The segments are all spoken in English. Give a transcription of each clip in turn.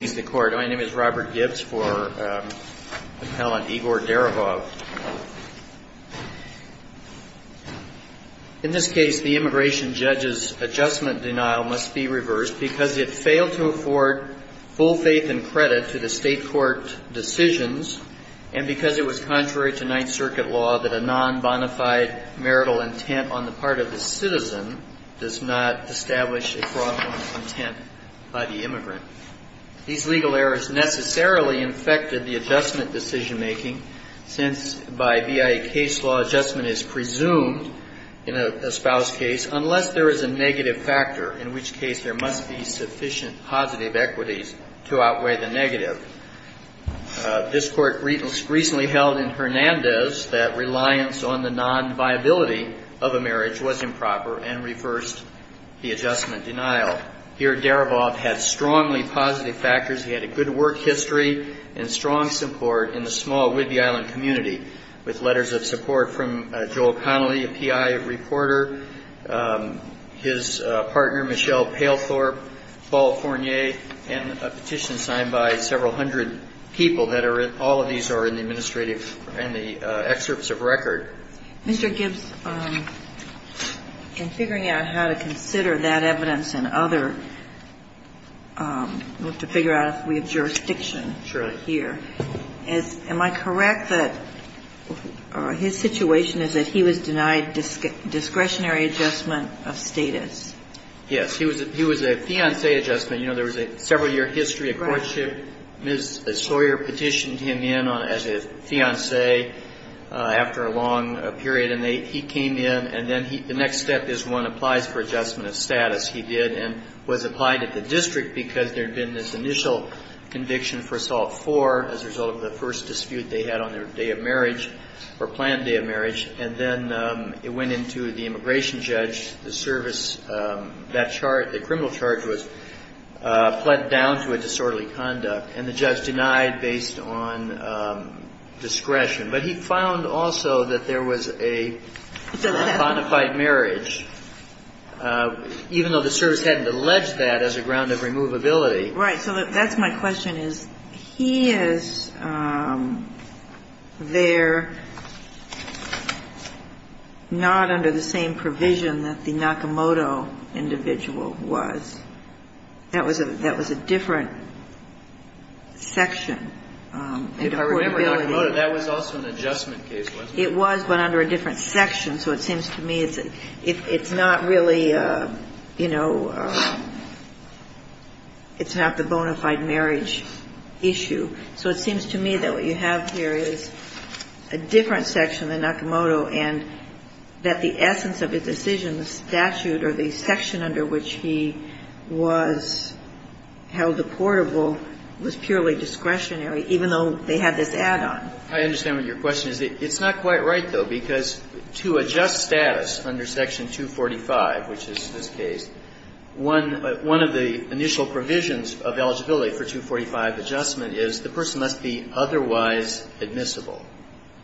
My name is Robert Gibbs for Appellant Igor Derevov. In this case, the immigration judge's adjustment denial must be reversed because it failed to afford full faith and credit to the state court decisions and because it was contrary to Ninth Circuit law that a non-bonafide marital intent on the part of the citizen does not establish a fraudulent intent by the immigrant. These legal errors necessarily infected the adjustment decision-making since by BIA case law, adjustment is presumed in a spouse case unless there is a negative factor, in which case there must be sufficient positive equities to outweigh the negative. This court recently held in Hernandez that reliance on the non-viability of a marriage was improper and reversed the adjustment denial. Here, Derevov had strongly positive factors. He had a good work history and strong support in the small Whidbey Island community, with letters of support from Joel Connolly, a PI reporter, his partner Michelle Pailthorpe, Paul Fournier, and a petition signed by several hundred people that are in the administrative and the excerpts of record. Mr. Gibbs, in figuring out how to consider that evidence and other, to figure out if we have jurisdiction here, am I correct that his situation is that he was denied discretionary adjustment of status? Yes. He was a fiancé adjustment. You know, there was a several-year history of courtship. Ms. Sawyer petitioned him in as a fiancé after a long period, and he came in, and then the next step is one applies for adjustment of status. He did and was applied at the district because there had been this initial conviction for assault four as a result of the first dispute they had on their day of marriage, or planned day of marriage, and then it went into the immigration judge, the service, that charge, the criminal charge was pled down to a disorderly conduct, and the judge denied based on discretion. But he found also that there was a bona fide marriage, even though the service hadn't alleged that as a ground of removability. Right. So that's my question, is he is there not under the same provision that the Nakamoto individual was? That was a different section. If I remember, Nakamoto, that was also an adjustment case, wasn't it? It was, but under a different section. So it seems to me it's not really, you know, it's not the bona fide marriage issue. So it seems to me that what you have here is a different section than Nakamoto and that the essence of his decision, the statute or the section under which he was held apportable was purely discretionary, even though they had this add-on. I understand what your question is. It's not quite right, though, because to adjust status under Section 245, which is this case, one of the initial provisions of eligibility for 245 adjustment is the person must be otherwise admissible.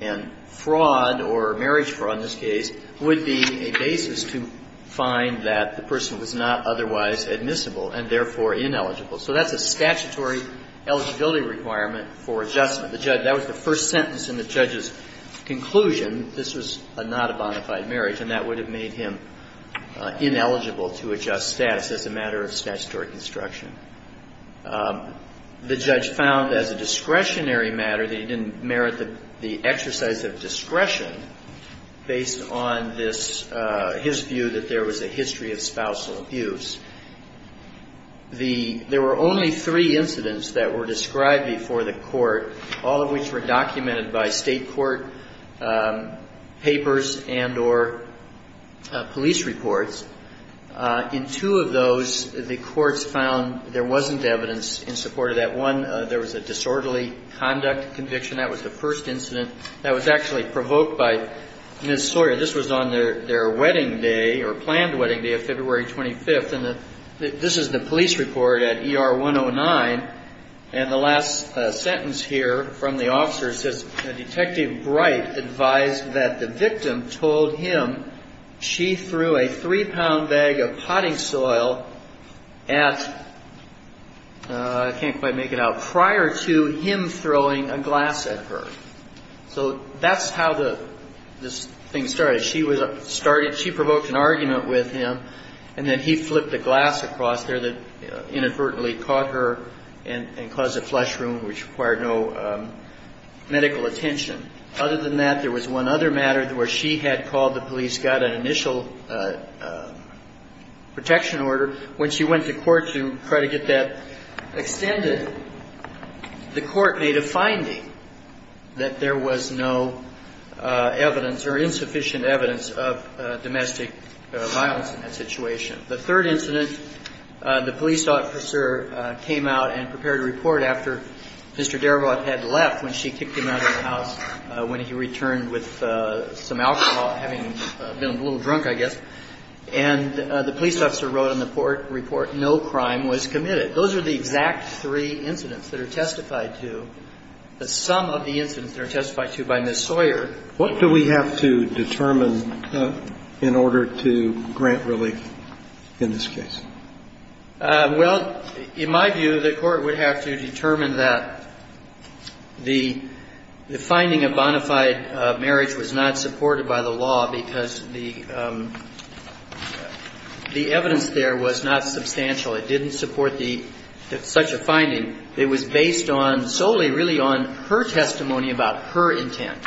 And fraud or marriage fraud in this case would be a basis to find that the person was not otherwise admissible and therefore ineligible. So that's a statutory eligibility requirement for adjustment. The judge, that was the first sentence in the judge's conclusion. This was not a bona fide marriage and that would have made him ineligible to adjust status as a matter of statutory construction. The judge found as a discretionary matter that he didn't merit the exercise of discretion based on this, his view that there was a history of spousal abuse. The, there were only three incidents that were described before the court, all of which were documented by state court papers and or police reports. In two of those, the courts found there wasn't evidence in support of that. One, there was a disorderly conduct conviction. That was the first incident that was actually provoked by Ms. Sawyer. This was on their, their wedding day or planned wedding day of February 25th. And this is the police report at ER 109. And the last sentence here from the officer says, Detective Bright advised that the victim told him she threw a three ounce glass at, I can't quite make it out, prior to him throwing a glass at her. So that's how the, this thing started. She was, started, she provoked an argument with him and then he flipped the glass across there that inadvertently caught her and, and caused a flush room which required no medical attention. Other than that, there was one other matter where she had called the police, got an initial protection order. When she went to court to try to get that extended, the court made a finding that there was no evidence or insufficient evidence of domestic violence in that situation. The third incident, the police officer came out and prepared a report after Mr. Darabont had left, when she kicked him out of the house when he returned with some alcohol, having been a little drunk, I guess. And the police officer wrote on the report, no crime was committed. Those are the exact three incidents that are testified to. The sum of the incidents that are testified to by Ms. Sawyer. What do we have to determine in order to grant relief in this case? Well, in my view, the court would have to determine that the, the finding of bona fide marriage was not supported by the law because the, the, the court would have to determine that the evidence there was not substantial. It didn't support the, such a finding. It was based on, solely really on her testimony about her intent.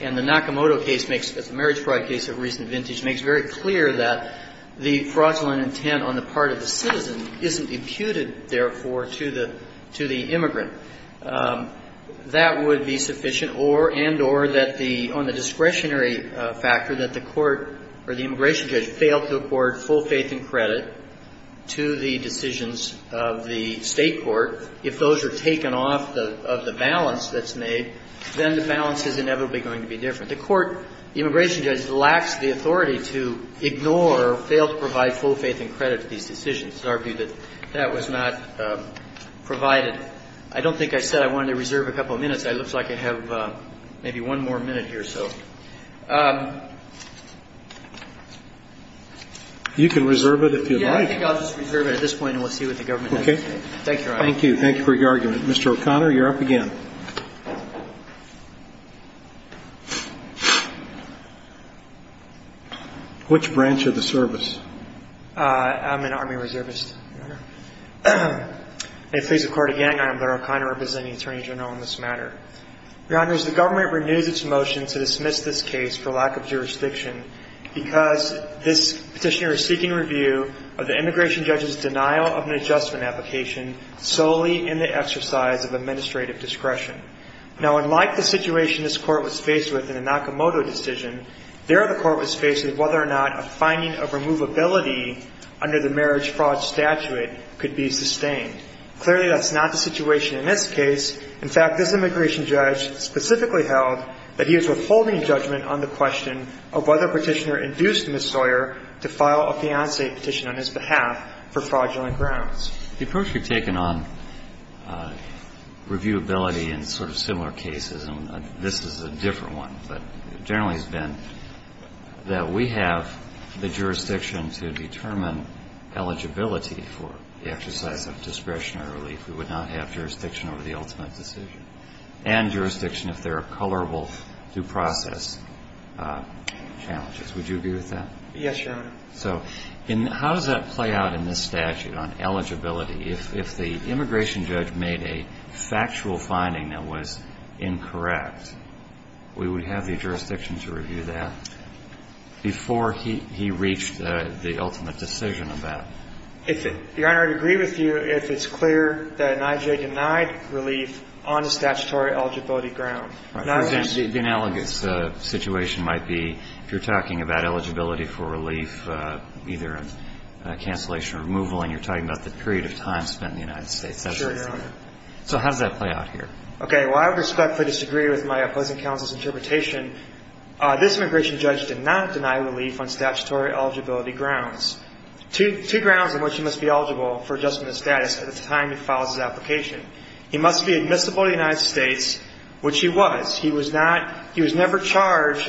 And the Nakamoto case makes, the marriage fraud case of recent vintage, makes very clear that the fraudulent intent on the part of the citizen isn't imputed, therefore, to the, to the immigrant. That would be sufficient or, and, or that the, on the discretionary factor, that the court or the immigration judge failed to accord full faith and credit to the decisions of the State court. If those are taken off the, of the balance that's made, then the balance is inevitably going to be different. The court, the immigration judge lacks the authority to ignore or fail to provide full faith and credit to these decisions. It's argued that that was not provided. I don't think I said I wanted to reserve a couple of minutes. It looks like I have maybe one more minute here, so. You can reserve it if you'd like. Yeah, I think I'll just reserve it at this point and we'll see what the government has to say. Okay. Thank you, Your Honor. Thank you. Thank you for your argument. Mr. O'Connor, you're up again. Which branch of the service? I'm an Army Reservist, Your Honor. May it please the Court again, I am Larry O'Connor, representing the Attorney General on this matter. Your Honor, as the government renews its motion to dismiss this case for lack of jurisdiction because this petitioner is seeking review of the immigration judge's denial of an adjustment application solely in the exercise of administrative discretion. Now, unlike the situation this Court was faced with in the Nakamoto decision, there the Court was faced with whether or not a finding of removability under the marriage fraud statute could be sustained. Clearly, that's not the situation in this case. In fact, this immigration judge specifically held that he was withholding judgment on the question of whether petitioner induced Ms. Sawyer to file a fiancé petition on his behalf for fraudulent grounds. The approach you've taken on reviewability in sort of similar cases, and this is a different one, but generally has been that we have the jurisdiction to determine eligibility for the exercise of discretionary relief. We would not have jurisdiction over the ultimate decision. And jurisdiction if there are colorable due process challenges. Would you agree with that? Yes, Your Honor. So, how does that play out in this statute on eligibility? If the immigration judge made a factual finding that was incorrect, we would have the jurisdiction to review that before he reached the ultimate decision of that? Your Honor, I'd agree with you if it's clear that an IJ denied relief on a statutory eligibility ground. The analogous situation might be if you're talking about eligibility for relief, either cancellation or removal, and you're talking about the period of time spent in the United States. So, how does that play out here? Okay, well, I respectfully disagree with my opposing counsel's interpretation. This immigration judge did not deny relief on statutory eligibility grounds. Two grounds on which he must be eligible for adjustment of status at the time he filed his application. He must be admissible in the United States, which he was. He was never charged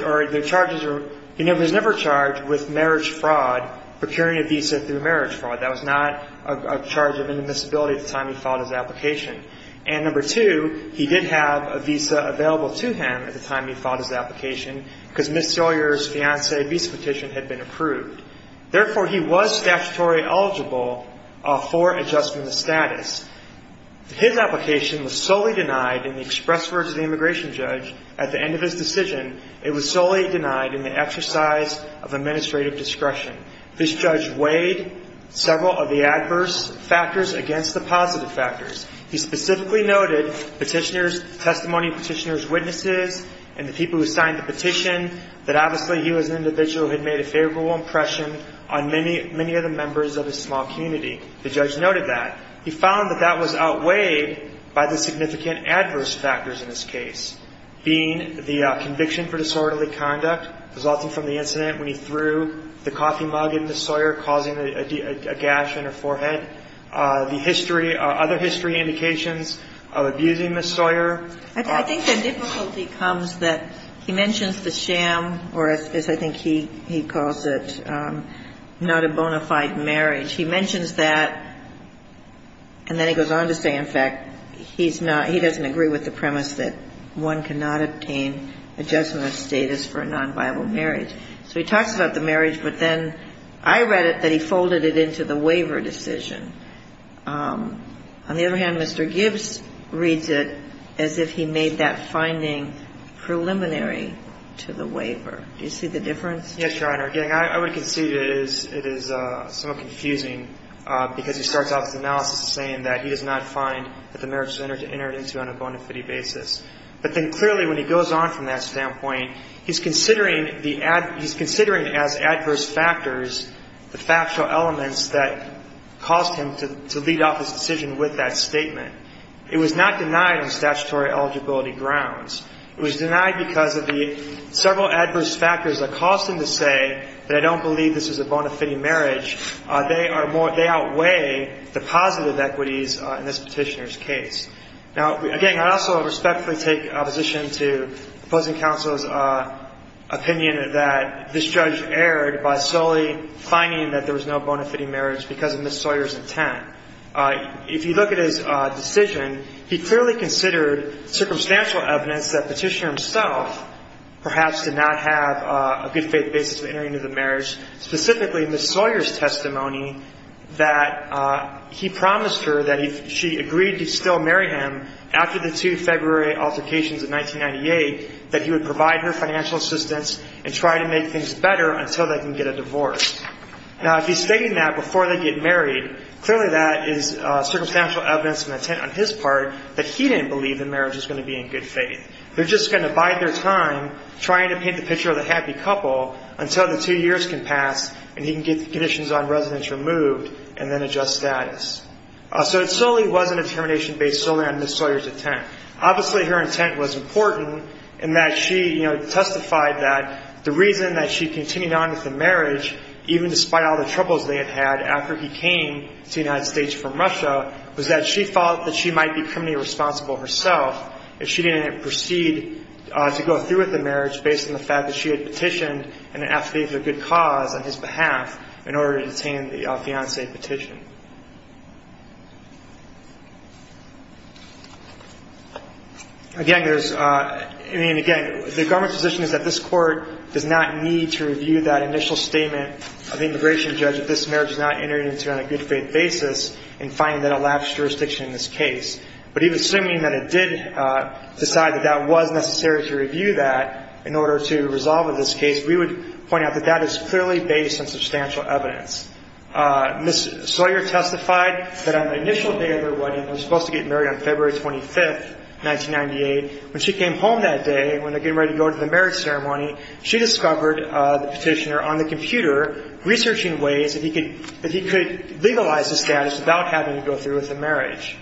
with marriage fraud, procuring a visa through marriage fraud. That was not a charge of inadmissibility at the time he filed his application. And number two, he did have a visa available to him at the time he filed his application because Ms. Sawyer's fiancé visa petition had been approved. Therefore, he was statutory eligible for adjustment of status. His application was solely denied in the express words of the immigration judge at the end of his decision. It was solely denied in the exercise of administrative discretion. This judge weighed several of the adverse factors against the positive factors. He specifically noted petitioners, testimony petitioners' witnesses, and the people who signed the petition, that obviously he was an individual who had made a favorable impression on many of the members of his small community. The judge noted that. He found that that was outweighed by the significant adverse factors in this case, being the conviction for disorderly conduct resulting from the incident when he threw the coffee mug at Ms. Sawyer, causing a gash in her forehead. The history, other history indications of abusing Ms. Sawyer. I think the difficulty comes that he mentions the sham, or as I think he calls it, not a bona fide marriage. He mentions that, and then he goes on to say, in fact, he's not, he doesn't agree with the premise that one cannot obtain adjustment of status for a non-viable marriage. So he talks about the marriage, but then I read it that he folded it into the waiver decision. On the other hand, Mr. Gibbs reads it as if he made that finding preliminary to the waiver. Do you see the difference? Yes, Your Honor. Again, I would concede it is somewhat confusing, because he starts off his analysis saying that he does not find that the marriage was entered into on a bona fide basis. But then clearly when he goes on from that standpoint, he's considering the, he's considering as adverse factors the factual elements that caused him to lead off his decision with that statement. It was not denied on statutory eligibility grounds. It was denied because of the several adverse factors that caused him to say that I don't believe this is a bona fide marriage. They are more, they outweigh the positive equities in this petitioner's case. Now, again, I also respectfully take opposition to opposing counsel's opinion that this judge erred by solely finding that there was no bona fide marriage because of Ms. Sawyer's intent. If you look at his decision, he clearly considered circumstantial evidence that the petitioner himself perhaps did not have a good faith basis of entering into the marriage, specifically Ms. Sawyer's testimony that he promised her that if she agreed to still marry him after the two February altercations of 1998 that he would provide her financial assistance and try to make things better until they can get a divorce. Now, if he's stating that before they get married, clearly that is circumstantial evidence and intent on his part that he didn't believe the marriage was going to be in good faith. They're just going to bide their time trying to paint the picture of the happy couple until the two years can pass and he can get the conditions on residence removed and then adjust status. So it certainly wasn't a determination based solely on Ms. Sawyer's intent. Obviously, her intent was important in that she testified that the reason that she continued on with the marriage, even despite all the troubles they had had after he came to the United States from Russia, was that she thought that she might be criminally responsible herself if she didn't proceed to go through with the marriage based on the fact that she had petitioned an affidavit of good cause on his behalf in order to detain the fiancé petition. Again, the government's position is that this court does not need to review that initial statement of the immigration judge that this marriage is not entered into on a good faith basis in finding that a lapse of jurisdiction in this case. But even assuming that it did decide that that was necessary to review that in order to resolve this case, we would point out that that is clearly based on substantial evidence. Ms. Sawyer testified that on the initial day of their wedding, they were supposed to get married on February 25, 1998. When she came home that day, when they were getting ready to go to the marriage ceremony, she discovered the petitioner on the computer researching ways that he could legalize the status without having to go through with the marriage.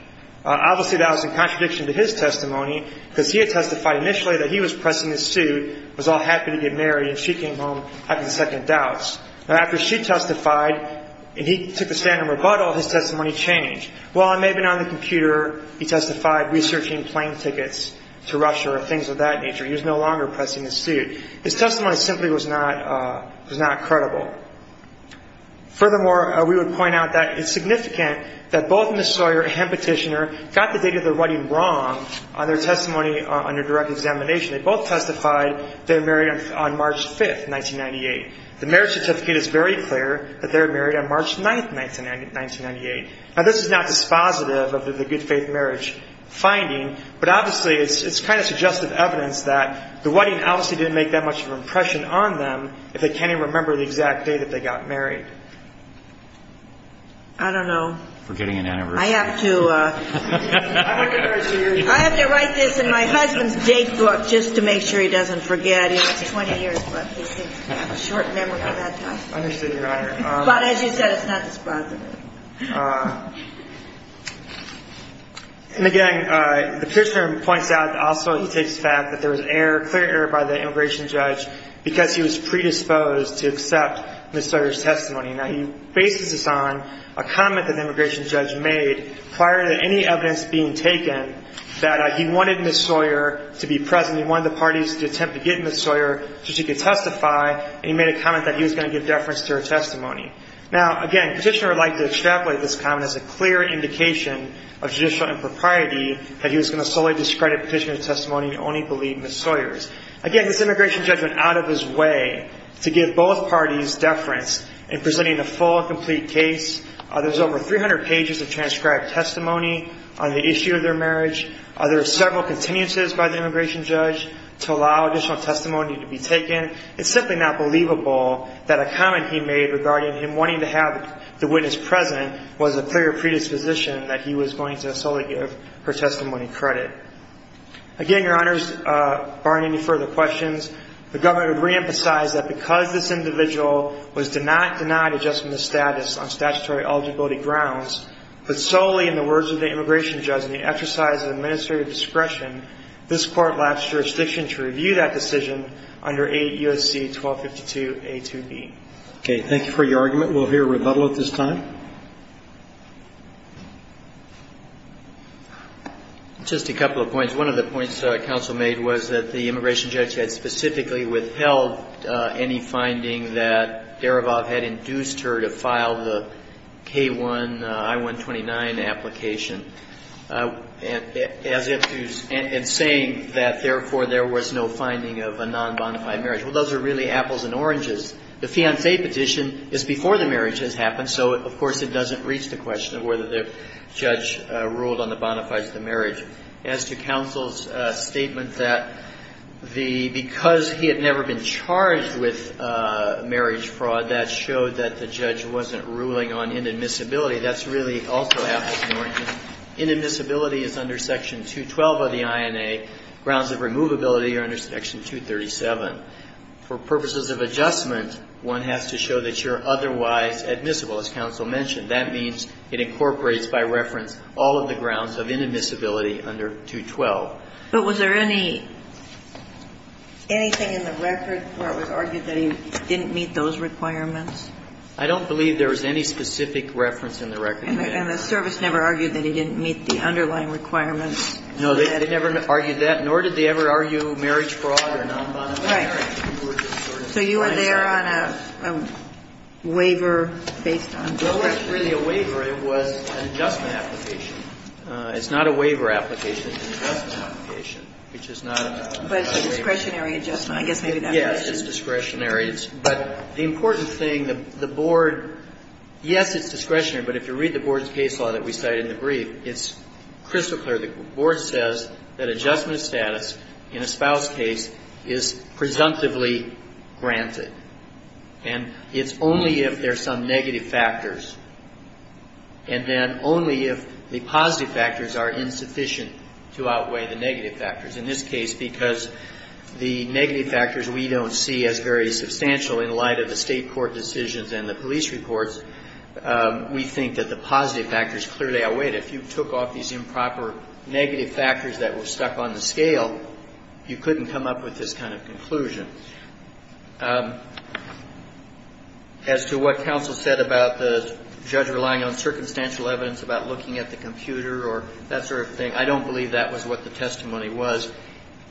Obviously, that was in contradiction to his testimony because he had testified initially that he was pressing the suit, was all happy to get married, and she came home having second doubts. Now, after she testified and he took the stand in rebuttal, his testimony changed. While it may have been on the computer, he testified researching plane tickets to Russia or things of that nature. He was no longer pressing the suit. His testimony simply was not credible. Furthermore, we would point out that it's significant that both Ms. Sawyer and petitioner got the date of their wedding wrong on their testimony under direct examination. They both testified they were married on March 5, 1998. The marriage certificate is very clear that they were married on March 9, 1998. Now, this is not dispositive of the good faith marriage finding, but obviously it's kind of suggestive evidence that the wedding obviously didn't make that much of an impression on them if they can't even remember the exact day that they got married. I don't know. Forgetting an anniversary. I have to write this in my husband's date book just to make sure he doesn't forget. He has 20 years left. It's a short memory of that time. Understood, Your Honor. But as you said, it's not dispositive. And again, the petitioner points out also he takes the fact that there was clear error by the immigration judge because he was predisposed to accept Ms. Sawyer's testimony. Now, he bases this on a comment that the immigration judge made prior to any evidence being taken that he wanted Ms. Sawyer to be present. He wanted the parties to attempt to get Ms. Sawyer so she could testify, and he made a comment that he was going to give deference to her testimony. Now, again, petitioner would like to extrapolate this comment as a clear indication of judicial impropriety that he was going to solely discredit petitioner's testimony and only believe Ms. Sawyer's. Again, this immigration judge went out of his way to give both parties deference in presenting a full and complete case. There's over 300 pages of transcribed testimony on the issue of their marriage. There are several continuances by the immigration judge to allow additional testimony to be taken. It's simply not believable that a comment he made regarding him wanting to have the witness present was a clear predisposition that he was going to solely give her testimony credit. Again, Your Honors, barring any further questions, the government would reemphasize that because this individual was denied adjustment of status on statutory eligibility grounds, but solely in the words of the immigration judge in the exercise of administrative discretion, this court lapsed jurisdiction to review that decision under 8 U.S.C. 1252A2B. Okay, thank you for your argument. We'll hear rebuttal at this time. Just a couple of points. One of the points the counsel made was that the immigration judge had specifically withheld any finding that Darabov had induced her to file the K1 I-129 application, and saying that therefore there was no finding of a non-bondified marriage. Well, those are really apples and oranges. The fiancé petition is before the marriage has happened, so of course, it doesn't reach the question of whether the judge ruled on the bona fides of the marriage. As to counsel's statement that because he had never been charged with marriage fraud, that showed that the judge wasn't ruling on inadmissibility, that's really also apples and oranges. Inadmissibility is under Section 212 of the INA. Grounds of removability are under Section 237. For purposes of adjustment, one has to show that you're otherwise admissible, as counsel mentioned. That means it incorporates by reference all of the grounds of inadmissibility under 212. But was there anything in the record where it was argued that he didn't meet those requirements? I don't believe there was any specific reference in the record. And the service never argued that he didn't meet the underlying requirements? No, they never argued that, nor did they ever argue marriage fraud or non-bondified So you were there on a waiver based on discretion? Well, it wasn't really a waiver. It was an adjustment application. It's not a waiver application. It's an adjustment application, which is not a discretionary. But it's a discretionary adjustment. I guess maybe that makes sense. Yes, it's discretionary. But the important thing, the Board, yes, it's discretionary. But if you read the Board's case law that we cite in the brief, it's crystal clear. The Board says that adjustment status in a spouse case is presumptively granted. And it's only if there are some negative factors. And then only if the positive factors are insufficient to outweigh the negative factors. In this case, because the negative factors we don't see as very substantial in light of the State court decisions and the police reports, we think that the positive factors clearly outweigh it. And if you took off these improper negative factors that were stuck on the scale, you couldn't come up with this kind of conclusion. As to what counsel said about the judge relying on circumstantial evidence about looking at the computer or that sort of thing, I don't believe that was what the testimony was.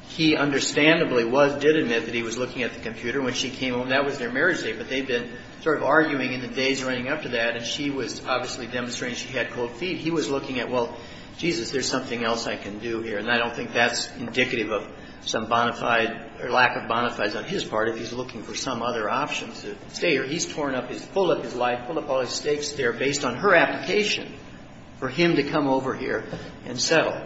He understandably did admit that he was looking at the computer when she came home. That was their marriage date. But they've been sort of arguing in the days running up to that. And she was obviously demonstrating she had cold feet. He was looking at, well, Jesus, there's something else I can do here. And I don't think that's indicative of some bona fide or lack of bona fides on his part if he's looking for some other options. He's torn up, he's pulled up his life, pulled up all his stakes there based on her application for him to come over here and settle.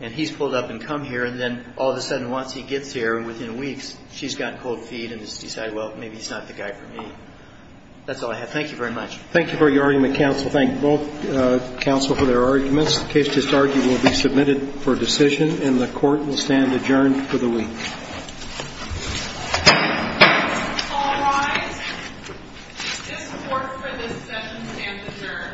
And he's pulled up and come here. And then all of a sudden once he gets here and within weeks she's got cold feet and has decided, well, maybe he's not the guy for me. That's all I have. Thank you very much. Thank you for your argument, counsel. Thank both counsel for their arguments. The case just argued will be submitted for decision and the court will stand adjourned for the week. All rise. This court for the sentence and the jury. Thank you.